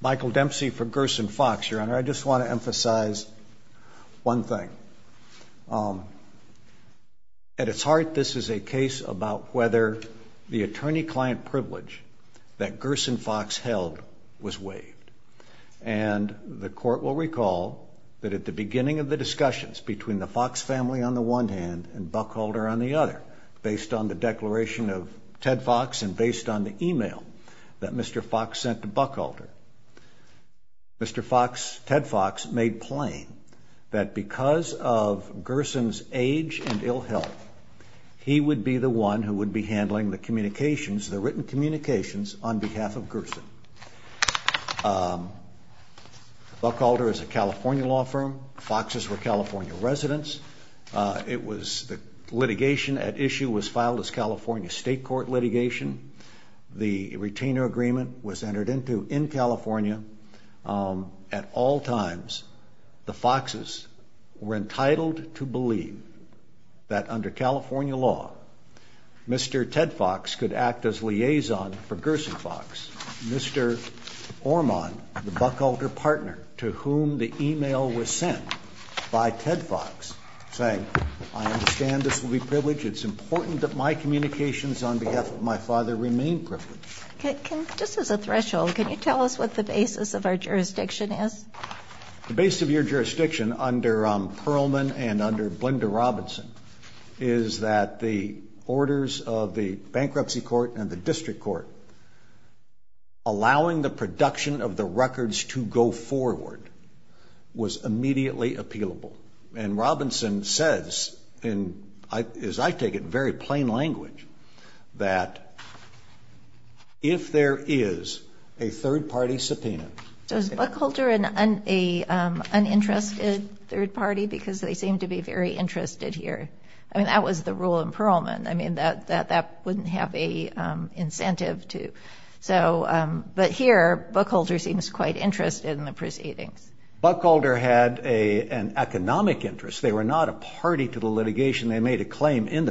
Michael Dempsey for Gerson Fox your honor I just want to emphasize one thing at its heart this is a case about whether the attorney-client privilege that Gerson Fox held was waived and the court will recall that at the beginning of the discussions between the Fox family on the one hand and Buckholder on the other based on the declaration of Ted Fox and based on the email that Mr. Fox sent to Buckholder Mr. Fox Ted Fox made plain that because of Gerson's age and ill health he would be the one who would be handling the communications the written communications on behalf of Gerson. Buckholder is a California law firm Fox's were California residents it was the litigation at issue was filed as entered into in California at all times the Fox's were entitled to believe that under California law Mr. Ted Fox could act as liaison for Gerson Fox. Mr. Orman the Buckholder partner to whom the email was sent by Ted Fox saying I understand this will be privileged it's important that my communications on behalf of my Can you tell us what the basis of our jurisdiction is? The base of your jurisdiction under Perlman and under Blinder Robinson is that the orders of the bankruptcy court and the district court allowing the production of the records to go forward was immediately appealable and Robinson says in as I there is a third-party subpoena. So is Buckholder an uninterested third party because they seem to be very interested here I mean that was the rule in Perlman I mean that that wouldn't have a incentive to so but here Buckholder seems quite interested in the proceedings. Buckholder had a an economic interest they were not a party to the litigation they made a claim in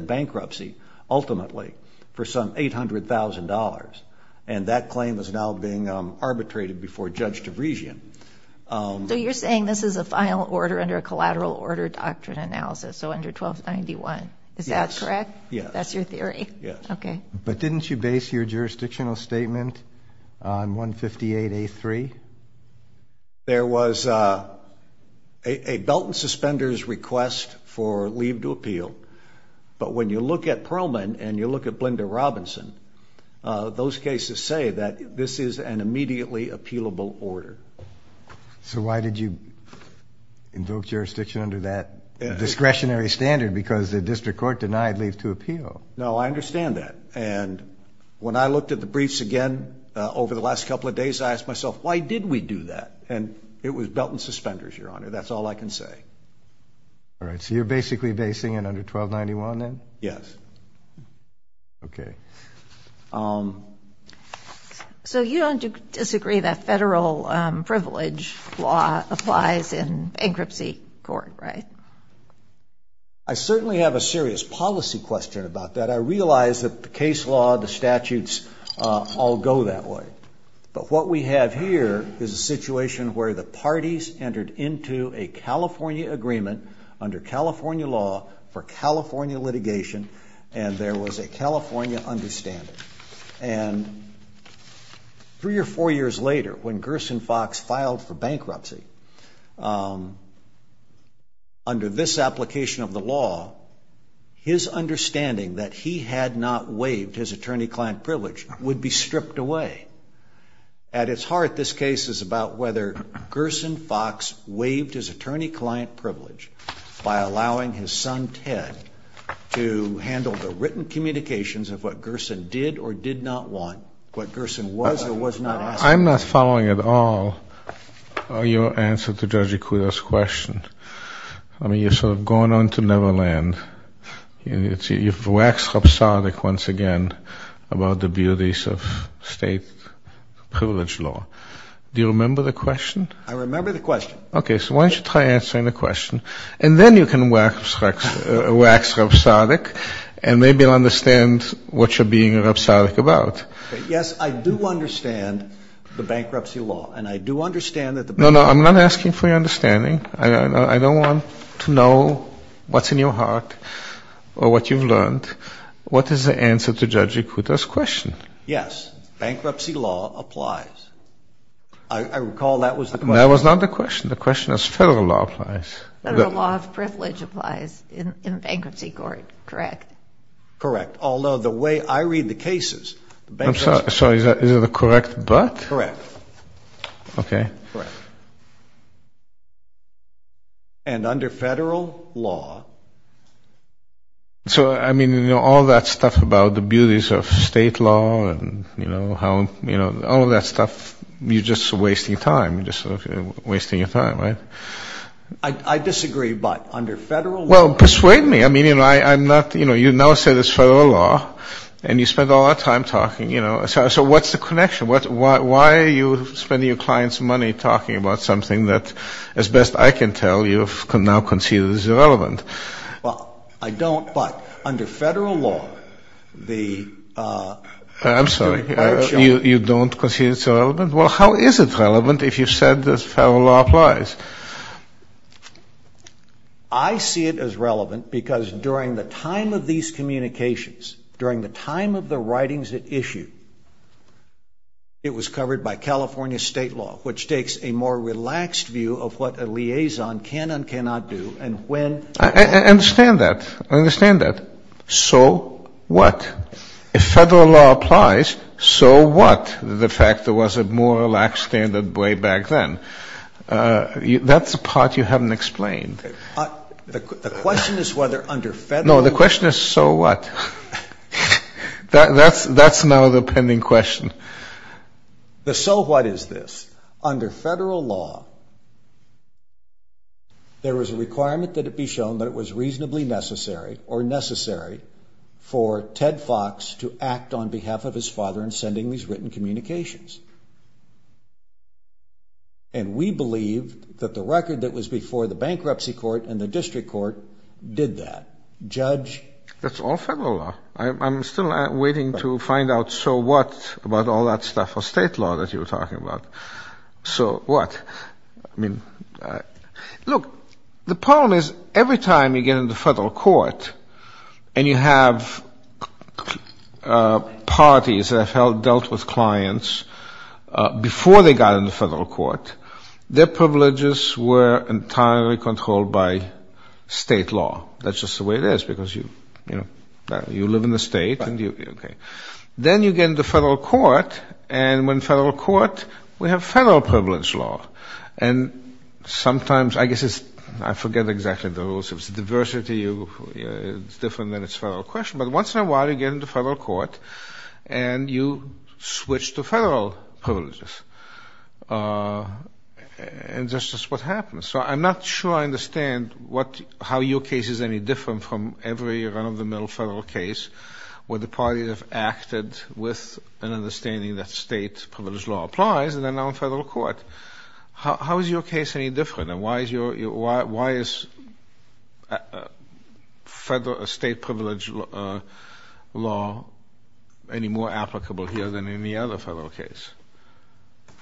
the claim is now being arbitrated before Judge DeVriesian. So you're saying this is a final order under a collateral order doctrine analysis so under 1291 is that correct? Yes. That's your theory? Yes. Okay. But didn't you base your jurisdictional statement on 158A3? There was a Belton suspenders request for leave to appeal but when you look at Perlman and you look at Blinder Robinson those cases say that this is an immediately appealable order. So why did you invoke jurisdiction under that discretionary standard because the district court denied leave to appeal? No I understand that and when I looked at the briefs again over the last couple of days I asked myself why did we do that and it was Belton suspenders your honor that's all I can say. All right so you're basically basing it under 1291 then? Yes. Okay. So you don't disagree that federal privilege law applies in bankruptcy court right? I certainly have a serious policy question about that I realize that the case law the statutes all go that way but what we have here is a situation where the parties entered into a California agreement under California law for California litigation and there was a California understanding and three or four years later when Gerson Fox filed for bankruptcy under this application of the law his understanding that he had not waived his attorney-client privilege would be his attorney-client privilege by allowing his son Ted to handle the written communications of what Gerson did or did not want. What Gerson was or was not asking for. I'm not following at all your answer to Judge Ikuda's question. I mean you've sort of gone on to never land. You've waxed sardic once again about the beauties of state privilege law. Do you remember the question? I remember the question. Why don't you try answering the question and then you can wax sardic and maybe you'll understand what you're being sardic about. Yes I do understand the bankruptcy law and I do understand that. No no I'm not asking for your understanding. I don't want to know what's in your heart or what you've learned. What is the answer to Judge Ikuda's question? Yes bankruptcy law applies. I recall that was the question. That was not the question. The question is federal law applies. Federal law of privilege applies in bankruptcy court. Correct. Correct. Although the way I read the cases. I'm sorry is that the correct but? Correct. Okay. And under federal law. So I mean you know all that stuff about the small. You're just wasting time. You're just wasting your time right. I disagree but under federal law. Well persuade me. I mean you know I'm not you know you now say there's federal law and you spend all that time talking. So what's the connection? Why are you spending your clients money talking about something that as best I can tell you can now concede is irrelevant. Well I don't but under federal law the I'm sorry you don't concede it's irrelevant? Well how is it relevant if you said this federal law applies? I see it as relevant because during the time of these communications, during the time of the writings it issued, it was covered by California state law which takes a more relaxed view of what a I understand that. I understand that. So what? If federal law applies, so what? The fact there was a more relaxed standard way back then. That's a part you haven't explained. The question is whether under federal law. No the question is so what? That's now the pending question. The so what is this? Under federal law there was a requirement that it be shown that it was reasonably necessary or necessary for Ted Fox to act on behalf of his father in sending these written communications. And we believe that the record that was before the bankruptcy court and the district court did that. Judge. That's all federal law. I'm still The problem is every time you get into federal court and you have parties that have dealt with clients before they got into federal court, their privileges were entirely controlled by state law. That's just the way it is because you live in the state. Then you get into federal court and when federal court we have exactly the rules. It's diversity. It's different than it's federal question. But once in a while you get into federal court and you switch to federal privileges. And that's just what happens. So I'm not sure I understand how your case is any different from every run of the mill federal case where the parties have acted with an understanding that state privilege law applies and then on federal court. How is your case any different? And why is your why is federal state privilege law any more applicable here than any other federal case?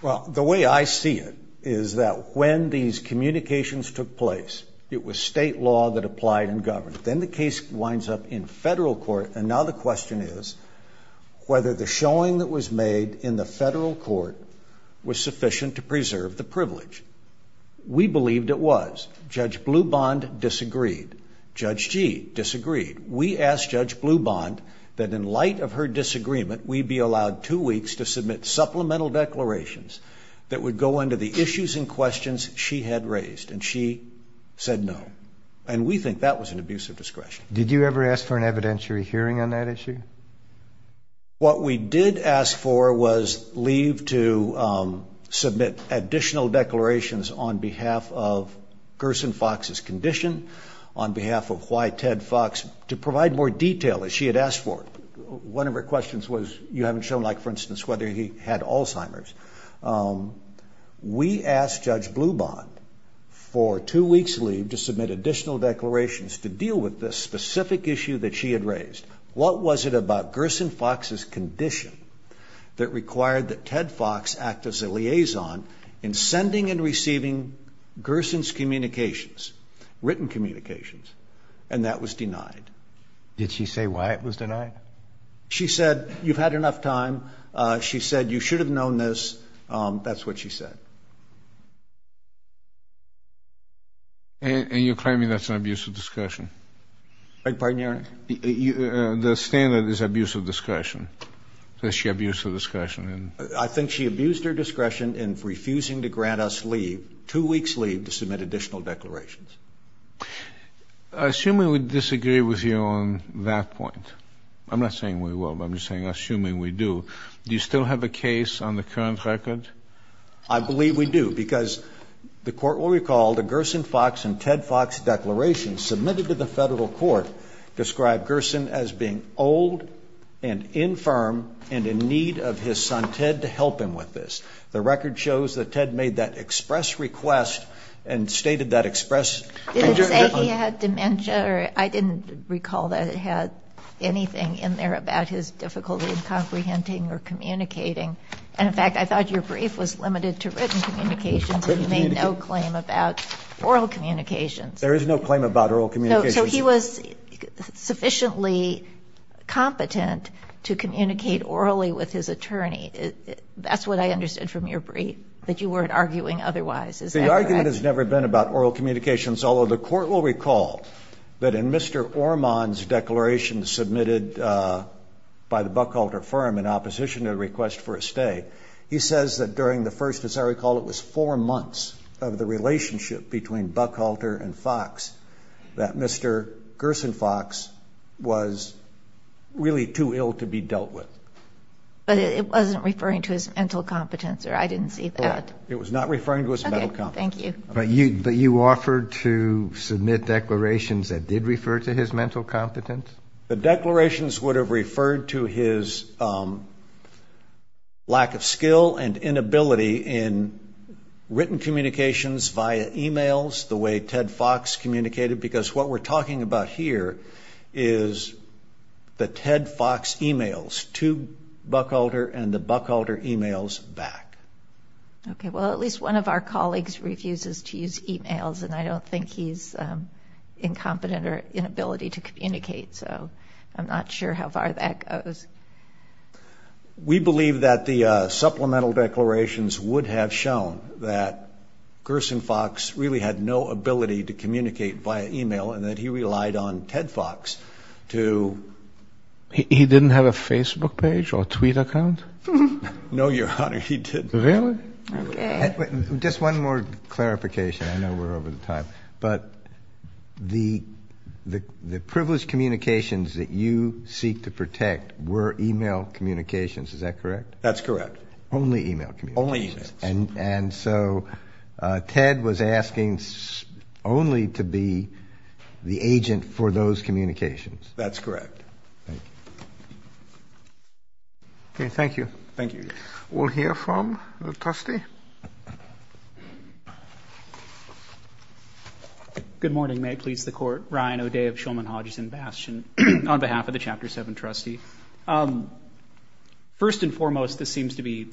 Well, the way I see it is that when these communications took place, it was state law that applied and that was made in the federal court was sufficient to preserve the privilege. We believed it was. Judge Blue Bond disagreed. Judge G disagreed. We asked Judge Blue Bond that in light of her disagreement, we be allowed two weeks to submit supplemental declarations that would go into the issues and questions she had raised. And she said no. And we think that was an abuse of discretion. Did you ever ask for an evidentiary hearing on that issue? What we did ask for was leave to submit additional declarations on behalf of Gerson Fox's condition on behalf of why Ted Fox to provide more detail as she had asked for. One of her questions was you haven't shown like for instance whether he had Alzheimer's. We asked Judge Blue Bond for two weeks leave to submit additional declarations to deal with this specific issue that she had raised. What was it about Gerson Fox's condition that required that Ted Fox act as a liaison in sending and receiving Gerson's communications, written communications? And that was denied. Did she say why it was denied? She said you've had enough time. She said you should have known this. That's what she said. And you're claiming that's an abuse of discussion. I pardon you. The standard is abuse of discussion. Does she abuse of discussion? I think she abused her discretion in refusing to grant us leave, two weeks leave to submit additional declarations. I assume we would disagree with you on that point. I'm not saying we will, but I'm just saying assuming we do. Do you still have a case on the current record? I believe we do because the court will recall the Gerson Fox and Ted Fox declarations submitted to the express request and stated that express. Did it say he had dementia? I didn't recall that it had anything in there about his difficulty in comprehending or communicating. And in fact I thought your brief was limited to written communications and you made no claim about oral communications. There is no claim about oral communications. So he was sufficiently competent to communicate orally with his attorney. That's what I understood from your brief. That you weren't arguing otherwise. Is that correct? The argument has never been about oral communications, although the court will recall that in Mr. Ormond's declaration submitted by the Buckhalter firm in opposition to the request for a stay, he says that during the first, as I recall, it was four months of the relationship between Buckhalter and Fox that Mr. Gerson Fox was really too ill to be dealt with. But it wasn't referring to his mental competence or I didn't see that. It was not referring to his mental competence. Okay, thank you. But you offered to submit declarations that did refer to his mental competence? The declarations would have referred to his lack of skill and inability in written communications via e-mails the way Ted Fox communicated because what we're talking about here is the Ted Fox e-mails. To Buckhalter and the Buckhalter e-mails back. Okay, well, at least one of our colleagues refuses to use e-mails and I don't think he's incompetent or inability to communicate, so I'm not sure how far that goes. We believe that the supplemental declarations would have shown that Gerson Fox really had no ability to communicate via e-mail and that he relied on Ted Fox to. He didn't have a Facebook page or tweet account? No, Your Honor, he didn't. Really? Okay. Just one more clarification. I know we're over the time, but the privileged communications that you seek to protect were e-mail communications, is that correct? That's correct. Only e-mail communications? Only e-mails. And so Ted was asking only to be the agent for those communications? That's correct. Okay, thank you. Thank you, Your Honor. We'll hear from the trustee. Good morning. May it please the Court. Ryan O'Day of Shulman Hodgson Bastion on behalf of the Chapter 7 trustee. First and foremost, this seems to be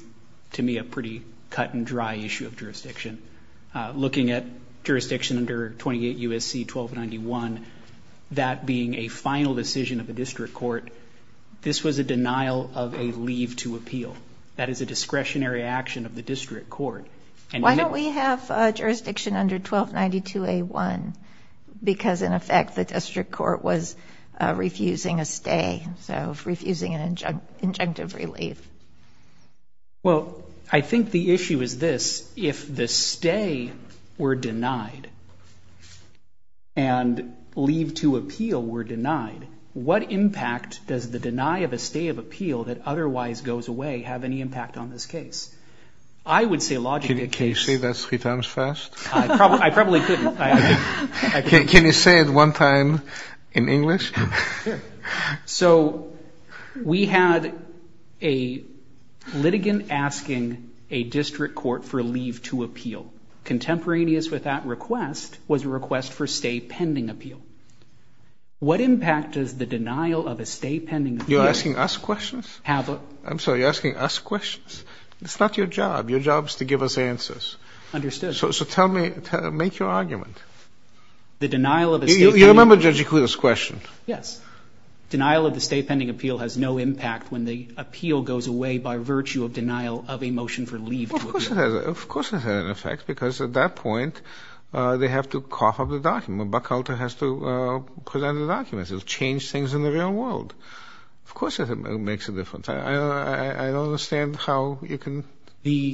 to me a pretty cut and dry issue of jurisdiction. Looking at jurisdiction under 28 U.S.C. 1291, that being a final decision of the district court, this was a denial of a leave to appeal. That is a discretionary action of the district court. Why don't we have jurisdiction under 1292A1? Because, in effect, the district court was refusing a stay, so refusing an injunctive relief. Well, I think the issue is this. If the stay were denied and leave to appeal were denied, what impact does the deny of a stay of appeal that otherwise goes away have any impact on this case? I would say logically... Can you say that three times fast? I probably couldn't. Can you say it one time in English? So we had a litigant asking a district court for leave to appeal. Contemporaneous with that request was a request for stay pending appeal. What impact does the denial of a stay pending appeal... You're asking us questions? Have a... I'm sorry, you're asking us questions? It's not your job. Your job is to give us answers. Understood. So tell me, make your argument. The denial of a stay... You remember Judge Ikuda's question. Yes. Denial of a stay pending appeal has no impact when the appeal goes away by virtue of denial of a motion for leave to appeal. Well, of course it has an effect, because at that point they have to cough up the document. Buck Alter has to present the documents. It'll change things in the real world. Of course it makes a difference. I don't understand how you can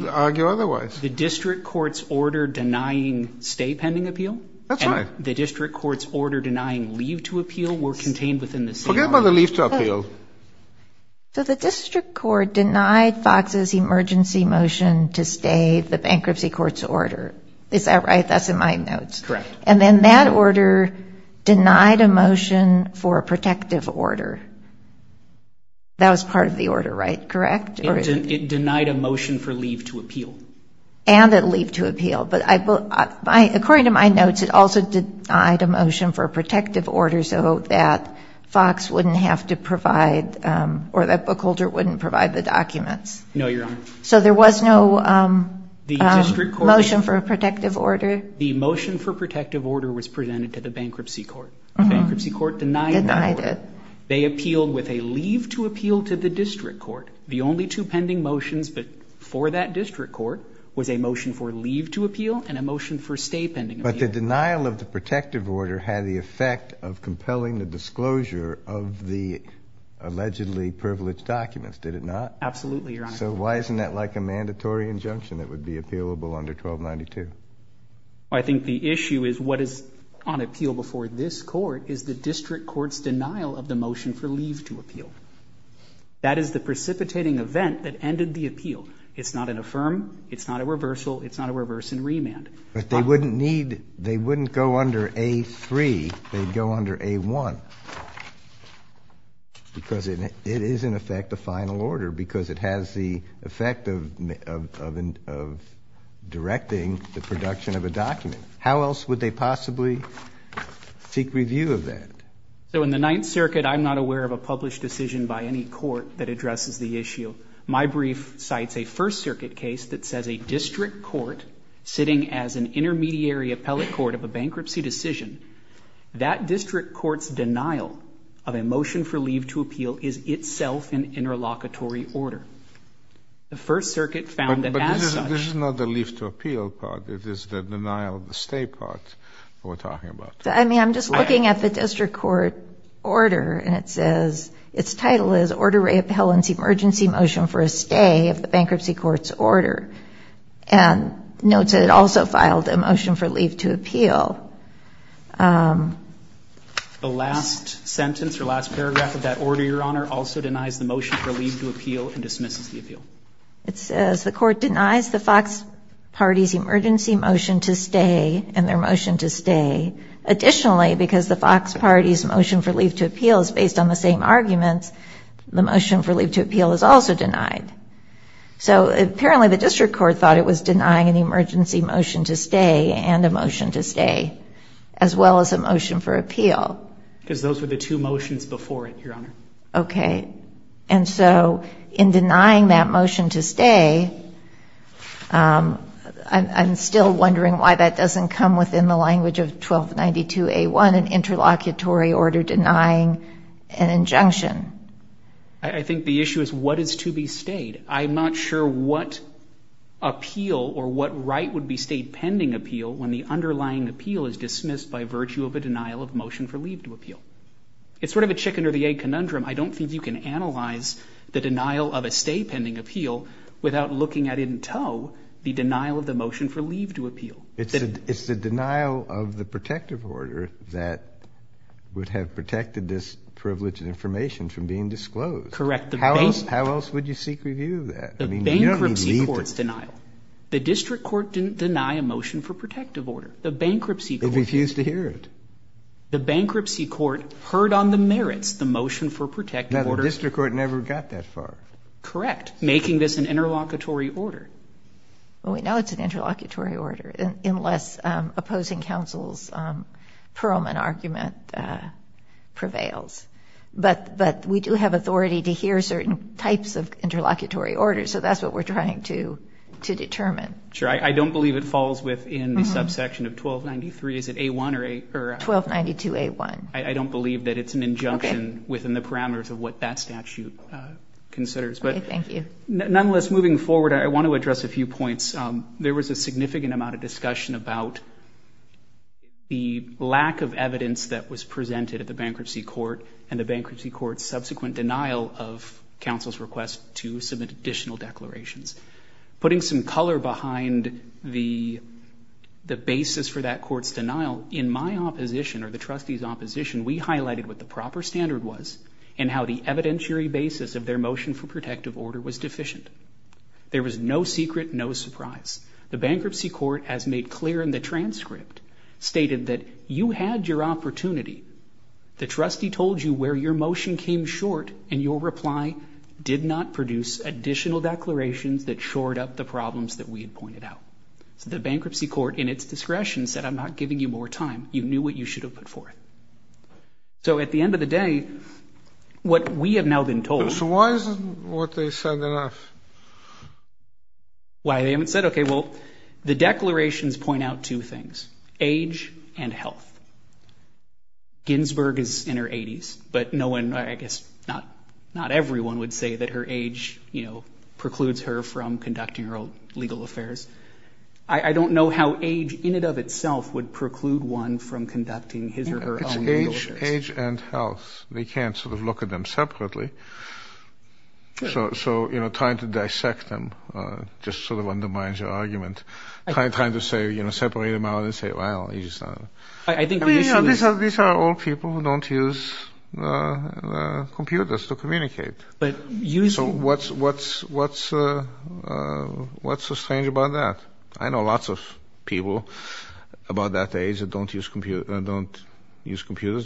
argue otherwise. The district court's order denying stay pending appeal... That's right. The district court's order denying leave to appeal were contained within the same... Forget about the leave to appeal. So the district court denied FOX's emergency motion to stay the bankruptcy court's order. Is that right? That's in my notes. Correct. And then that order denied a motion for a protective order. That was part of the order, right? Correct? It denied a motion for leave to appeal. And a leave to appeal. But according to my notes, it also denied a motion for a protective order, so that FOX wouldn't have to provide, or that Buck Alter wouldn't provide the documents. No, Your Honor. So there was no motion for a protective order? The motion for protective order was presented to the bankruptcy court. The bankruptcy court denied that order. Denied it. They appealed with a leave to appeal to the district court. The only two pending motions for that district court was a motion for leave to appeal and a motion for stay pending appeal. But the denial of the protective order had the effect of compelling the disclosure of the allegedly privileged documents, did it not? Absolutely, Your Honor. So why isn't that like a mandatory injunction that would be appealable under 1292? I think the issue is what is on appeal before this court is the district court's denial of the motion for leave to appeal. That is the precipitating event that ended the appeal. It's not an affirm, it's not a reversal, it's not a reverse and remand. But they wouldn't need, they wouldn't go under A3, they'd go under A1 because it is in effect a final order because it has the effect of directing the production of a document. How else would they possibly seek review of that? So in the Ninth Circuit, I'm not aware of a published decision by any court that addresses the issue. My brief cites a First Circuit case that says a district court sitting as an intermediary appellate court of a bankruptcy decision, that district court's denial of a motion for leave to appeal is itself an interlocutory order. The First Circuit found that as such. But this is not the leave to appeal part. It is the denial of the stay part that we're talking about. I mean, I'm just looking at the district court order and it says, its title is Order Reappellants Emergency Motion for a Stay of the Bankruptcy Court's Order. And note that it also filed a motion for leave to appeal. The last sentence or last paragraph of that order, Your Honor, also denies the motion for leave to appeal and dismisses the appeal. It says the court denies the Fox Party's emergency motion to stay and their motion to stay. Additionally, because the Fox Party's motion for leave to appeal is based on the same arguments, the motion for leave to appeal is also denied. So apparently the district court thought it was denying an emergency motion to stay and a motion to stay, as well as a motion for appeal. Because those were the two motions before it, Your Honor. Okay. And so in denying that motion to stay, I'm still wondering why that doesn't come within the language of 1292A1, an interlocutory order denying an injunction. I think the issue is what is to be stayed. I'm not sure what appeal or what right would be stayed pending appeal when the underlying appeal is dismissed by virtue of a denial of motion for leave to appeal. It's sort of a chicken or the egg conundrum. I don't think you can analyze the denial of a stay pending appeal without looking at in tow the denial of the motion for leave to appeal. It's the denial of the protective order that would have protected this privileged information from being disclosed. Correct. How else would you seek review of that? The bankruptcy court's denial. The district court didn't deny a motion for protective order. The bankruptcy court did. They refused to hear it. The bankruptcy court heard on the merits the motion for protective order. The district court never got that far. Correct. Making this an interlocutory order. Well, we know it's an interlocutory order unless opposing counsel's Perelman argument prevails. But we do have authority to hear certain types of interlocutory orders, so that's what we're trying to determine. Sure. I don't believe it falls within the subsection of 1293. Is it A-1? 1292-A-1. I don't believe that it's an injunction within the parameters of what that statute considers. Okay, thank you. Nonetheless, moving forward, I want to address a few points. There was a significant amount of discussion about the lack of evidence that was presented at the bankruptcy court and the bankruptcy court's subsequent denial of counsel's request to submit additional declarations. Putting some color behind the basis for that court's denial, in my opposition or the trustee's opposition, we highlighted what the proper standard was and how the evidentiary basis of their motion for protective order was deficient. There was no secret, no surprise. The bankruptcy court, as made clear in the transcript, stated that you had your opportunity. The trustee told you where your motion came short and your reply did not produce additional declarations that shored up the problems that we had pointed out. So the bankruptcy court, in its discretion, said I'm not giving you more time. You knew what you should have put forth. So at the end of the day, what we have now been told... So why isn't what they said enough? Why they haven't said? Okay, well, the declarations point out two things, age and health. Ginsburg is in her 80s, but no one, I guess not everyone would say that her age, you know, precludes her from conducting her own legal affairs. I don't know how age in and of itself would preclude one from conducting his or her own legal affairs. It's age and health. They can't sort of look at them separately. So, you know, trying to dissect them just sort of undermines your argument. Trying to say, you know, separate them out and say, well, he's not... I think the issue is... These are all people who don't use computers to communicate. But using... So what's so strange about that? I know lots of people about that age that don't use computers,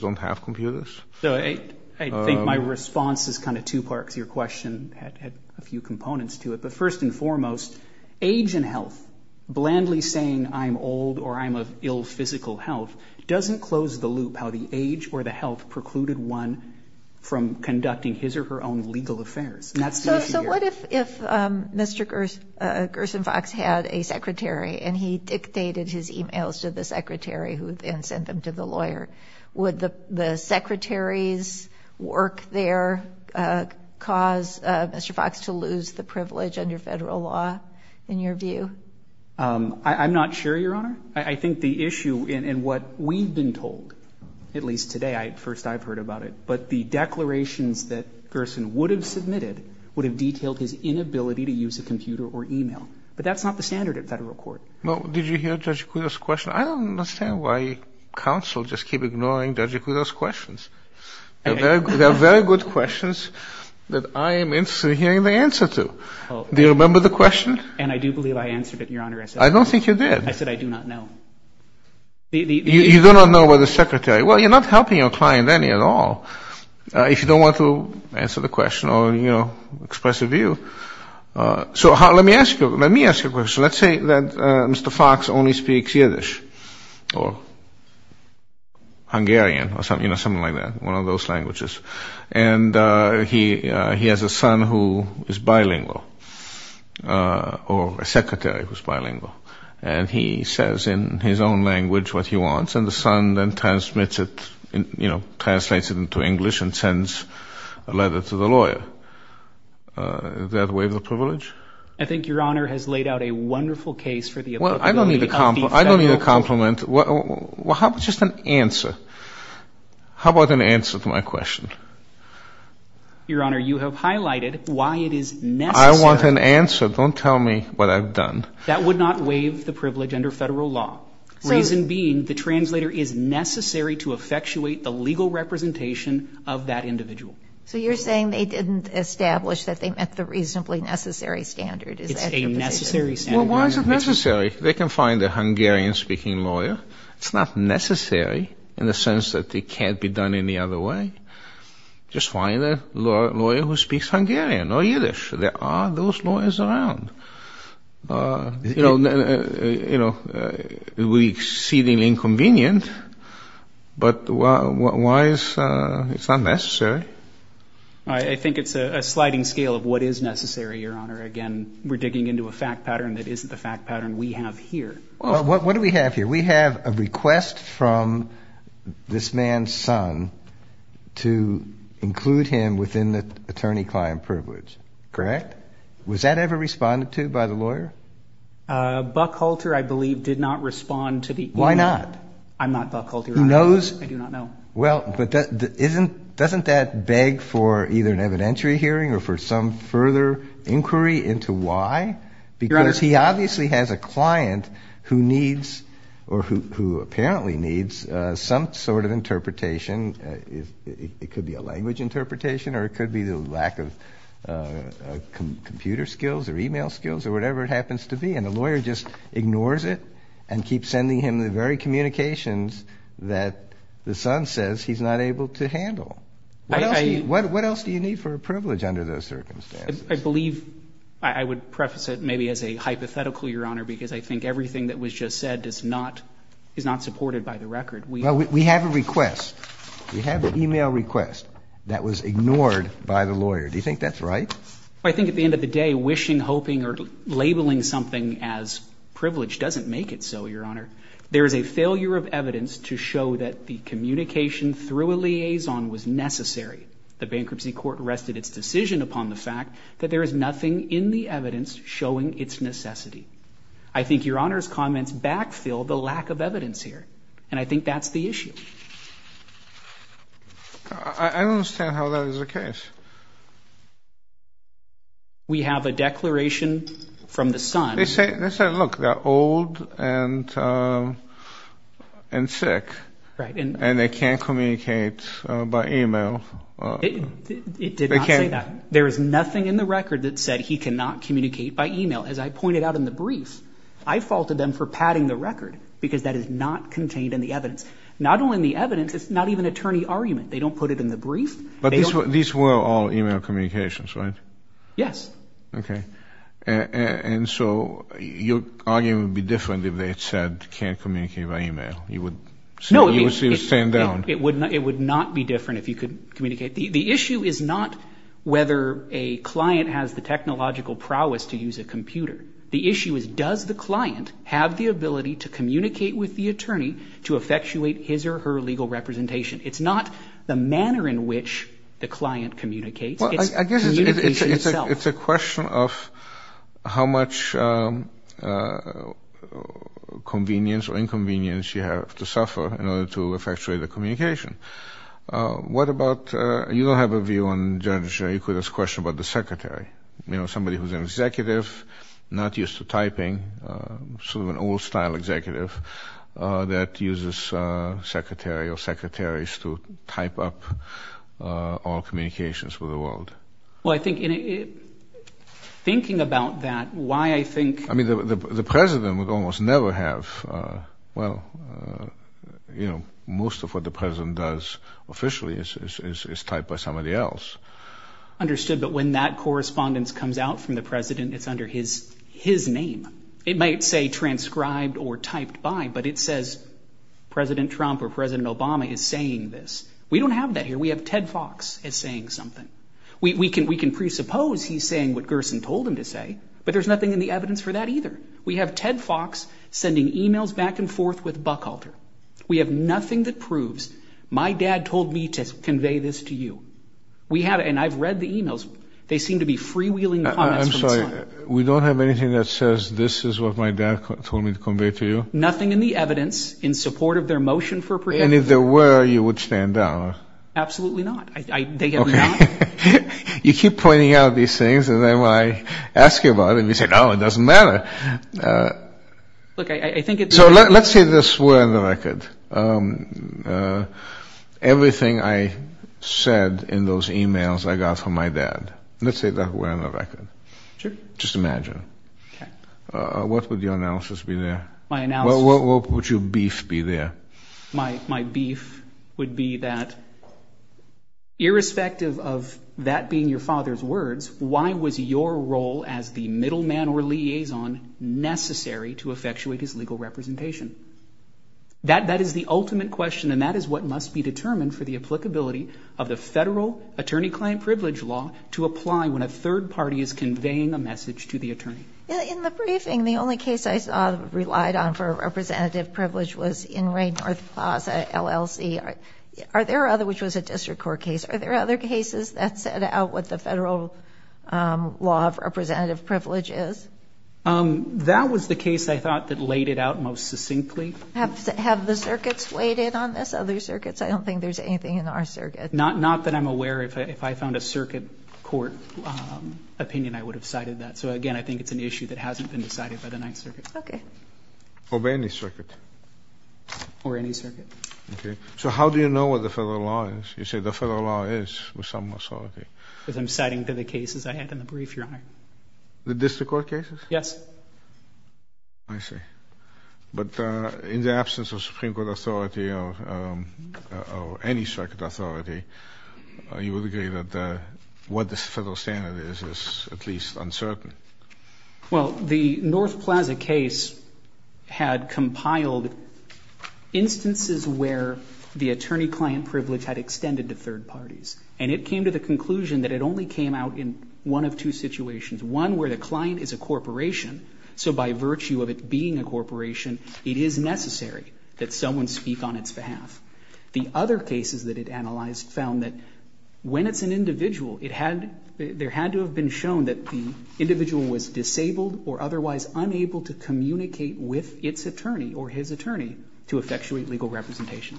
don't have computers. So I think my response is kind of two parts. Your question had a few components to it. But first and foremost, age and health, blandly saying I'm old or I'm of ill physical health, doesn't close the loop how the age or the health precluded one from conducting his or her own legal affairs. And that's the issue here. So what if Mr. Gerson Fox had a secretary and he dictated his e-mails to the secretary and sent them to the lawyer? Would the secretary's work there cause Mr. Fox to lose the privilege under federal law, in your view? I'm not sure, Your Honor. I think the issue in what we've been told, at least today, at first I've heard about it, but the declarations that Gerson would have submitted would have detailed his inability to use a computer or e-mail. But that's not the standard at federal court. Well, did you hear Judge Kudo's question? I don't understand why counsel just keep ignoring Judge Kudo's questions. They're very good questions that I am interested in hearing the answer to. Do you remember the question? And I do believe I answered it, Your Honor. I don't think you did. I said I do not know. You do not know where the secretary is. Well, you're not helping your client any at all if you don't want to answer the question or express a view. So let me ask you a question. Let's say that Mr. Fox only speaks Yiddish or Hungarian or something like that, one of those languages. And he has a son who is bilingual or a secretary who's bilingual, and he says in his own language what he wants, and the son then transmits it, you know, translates it into English and sends a letter to the lawyer. I think Your Honor has laid out a wonderful case for the applicability of these specials. Well, I don't need a compliment. How about just an answer? How about an answer to my question? Your Honor, you have highlighted why it is necessary. I want an answer. Don't tell me what I've done. That would not waive the privilege under Federal law, reason being the translator is necessary to effectuate the legal representation of that individual. So you're saying they didn't establish that they met the reasonably necessary standard. It's a necessary standard. Well, why is it necessary? They can find a Hungarian-speaking lawyer. It's not necessary in the sense that it can't be done any other way. Just find a lawyer who speaks Hungarian or Yiddish. There are those lawyers around. You know, it would be exceedingly inconvenient. But why is it not necessary? I think it's a sliding scale of what is necessary, Your Honor. Again, we're digging into a fact pattern that isn't the fact pattern we have here. What do we have here? We have a request from this man's son to include him within the attorney-client privilege, correct? Was that ever responded to by the lawyer? Buck Holter, I believe, did not respond to the email. Why not? I'm not Buck Holter. Who knows? I do not know. Well, but doesn't that beg for either an evidentiary hearing or for some further inquiry into why? Your Honor. Because he obviously has a client who needs or who apparently needs some sort of interpretation. It could be a language interpretation or it could be the lack of computer skills or email skills or whatever it happens to be. And the lawyer just ignores it and keeps sending him the very communications that the son says he's not able to handle. What else do you need for a privilege under those circumstances? I believe I would preface it maybe as a hypothetical, Your Honor, because I think everything that was just said is not supported by the record. We have a request. We have an email request that was ignored by the lawyer. Do you think that's right? I think at the end of the day, wishing, hoping, or labeling something as privilege doesn't make it so, Your Honor. There is a failure of evidence to show that the communication through a liaison was necessary. The bankruptcy court rested its decision upon the fact that there is nothing in the evidence showing its necessity. I think Your Honor's comments backfill the lack of evidence here. And I think that's the issue. I don't understand how that is the case. We have a declaration from the son. They say, look, they're old and sick. Right. And they can't communicate by email. It did not say that. There is nothing in the record that said he cannot communicate by email. As I pointed out in the brief, I faulted them for padding the record because that is not contained in the evidence. Not only in the evidence, it's not even an attorney argument. They don't put it in the brief. But these were all email communications, right? Yes. Okay. And so your argument would be different if they had said can't communicate by email. You would stand down. It would not be different if you could communicate. The issue is not whether a client has the technological prowess to use a computer. The issue is does the client have the ability to communicate with the attorney to effectuate his or her legal representation. It's not the manner in which the client communicates. It's communication itself. It's a question of how much convenience or inconvenience you have to suffer in order to effectuate a communication. What about you don't have a view on Judge Ikeda's question about the secretary. You know, somebody who is an executive, not used to typing, sort of an old style executive that uses secretary or secretaries to type up all communications for the world. Well, I think thinking about that, why I think. I mean, the president would almost never have. Well, you know, most of what the president does officially is typed by somebody else. Understood. But when that correspondence comes out from the president, it's under his name. It might say transcribed or typed by, but it says President Trump or President Obama is saying this. We don't have that here. We have Ted Fox is saying something. We can presuppose he's saying what Gerson told him to say, but there's nothing in the evidence for that either. We have Ted Fox sending e-mails back and forth with Buckhalter. We have nothing that proves my dad told me to convey this to you. We have, and I've read the e-mails. They seem to be freewheeling. I'm sorry. We don't have anything that says this is what my dad told me to convey to you. Nothing in the evidence in support of their motion for. And if there were, you would stand down. Absolutely not. You keep pointing out these things, and then when I ask you about it, you say, no, it doesn't matter. Look, I think it's. So let's say this were on the record. Everything I said in those e-mails I got from my dad. Let's say that were on the record. Sure. Just imagine. Okay. What would your analysis be there? My analysis. What would your beef be there? My beef would be that irrespective of that being your father's words, why was your role as the middleman or liaison necessary to effectuate his legal representation? That is the ultimate question, and that is what must be determined for the applicability of the federal attorney-client privilege law to apply when a third party is conveying a message to the attorney. In the briefing, the only case I saw relied on for representative privilege was in Raynorth Plaza, LLC. Are there other, which was a district court case, are there other cases that set out what the federal law of representative privilege is? That was the case I thought that laid it out most succinctly. Have the circuits weighed in on this? Other circuits? I don't think there's anything in our circuit. Not that I'm aware. If I found a circuit court opinion, I would have cited that. So, again, I think it's an issue that hasn't been decided by the Ninth Circuit. Okay. Or by any circuit? Or any circuit. Okay. So how do you know what the federal law is? You say the federal law is with some authority. Because I'm citing to the cases I had in the brief, Your Honor. The district court cases? Yes. I see. But in the absence of Supreme Court authority or any circuit authority, you would agree that what the federal standard is is at least uncertain? Well, the North Plaza case had compiled instances where the attorney-client privilege had extended to third parties. And it came to the conclusion that it only came out in one of two situations. One where the client is a corporation, so by virtue of it being a corporation, it is necessary that someone speak on its behalf. The other cases that it analyzed found that when it's an individual, there had to have been shown that the individual was disabled or otherwise unable to communicate with its attorney or his attorney to effectuate legal representation.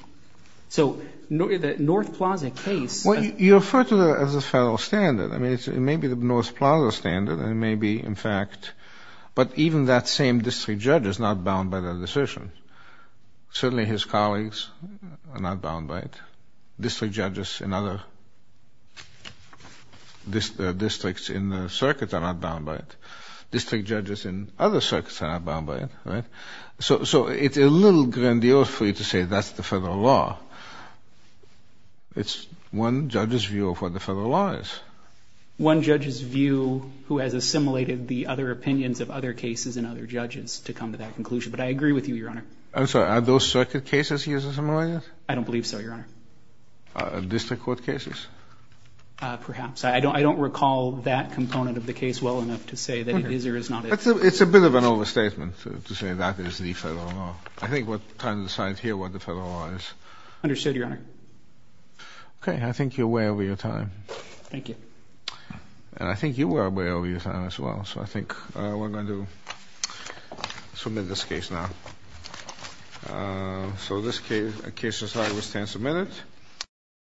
So the North Plaza case. Well, you refer to it as a federal standard. I mean, it may be the North Plaza standard. It may be, in fact, but even that same district judge is not bound by that decision. Certainly his colleagues are not bound by it. District judges in other districts in the circuits are not bound by it. District judges in other circuits are not bound by it, right? So it's a little grandiose for you to say that's the federal law. It's one judge's view of what the federal law is. One judge's view who has assimilated the other opinions of other cases and other judges to come to that conclusion. But I agree with you, Your Honor. I'm sorry. Are those circuit cases here assimilated? I don't believe so, Your Honor. District court cases? Perhaps. I don't recall that component of the case well enough to say that it is or is not. It's a bit of an overstatement to say that is the federal law. I think we're trying to decide here what the federal law is. Understood, Your Honor. Okay. I think you're way over your time. Thank you. And I think you were way over your time as well. So I think we're going to submit this case now. So this case is now to be submitted.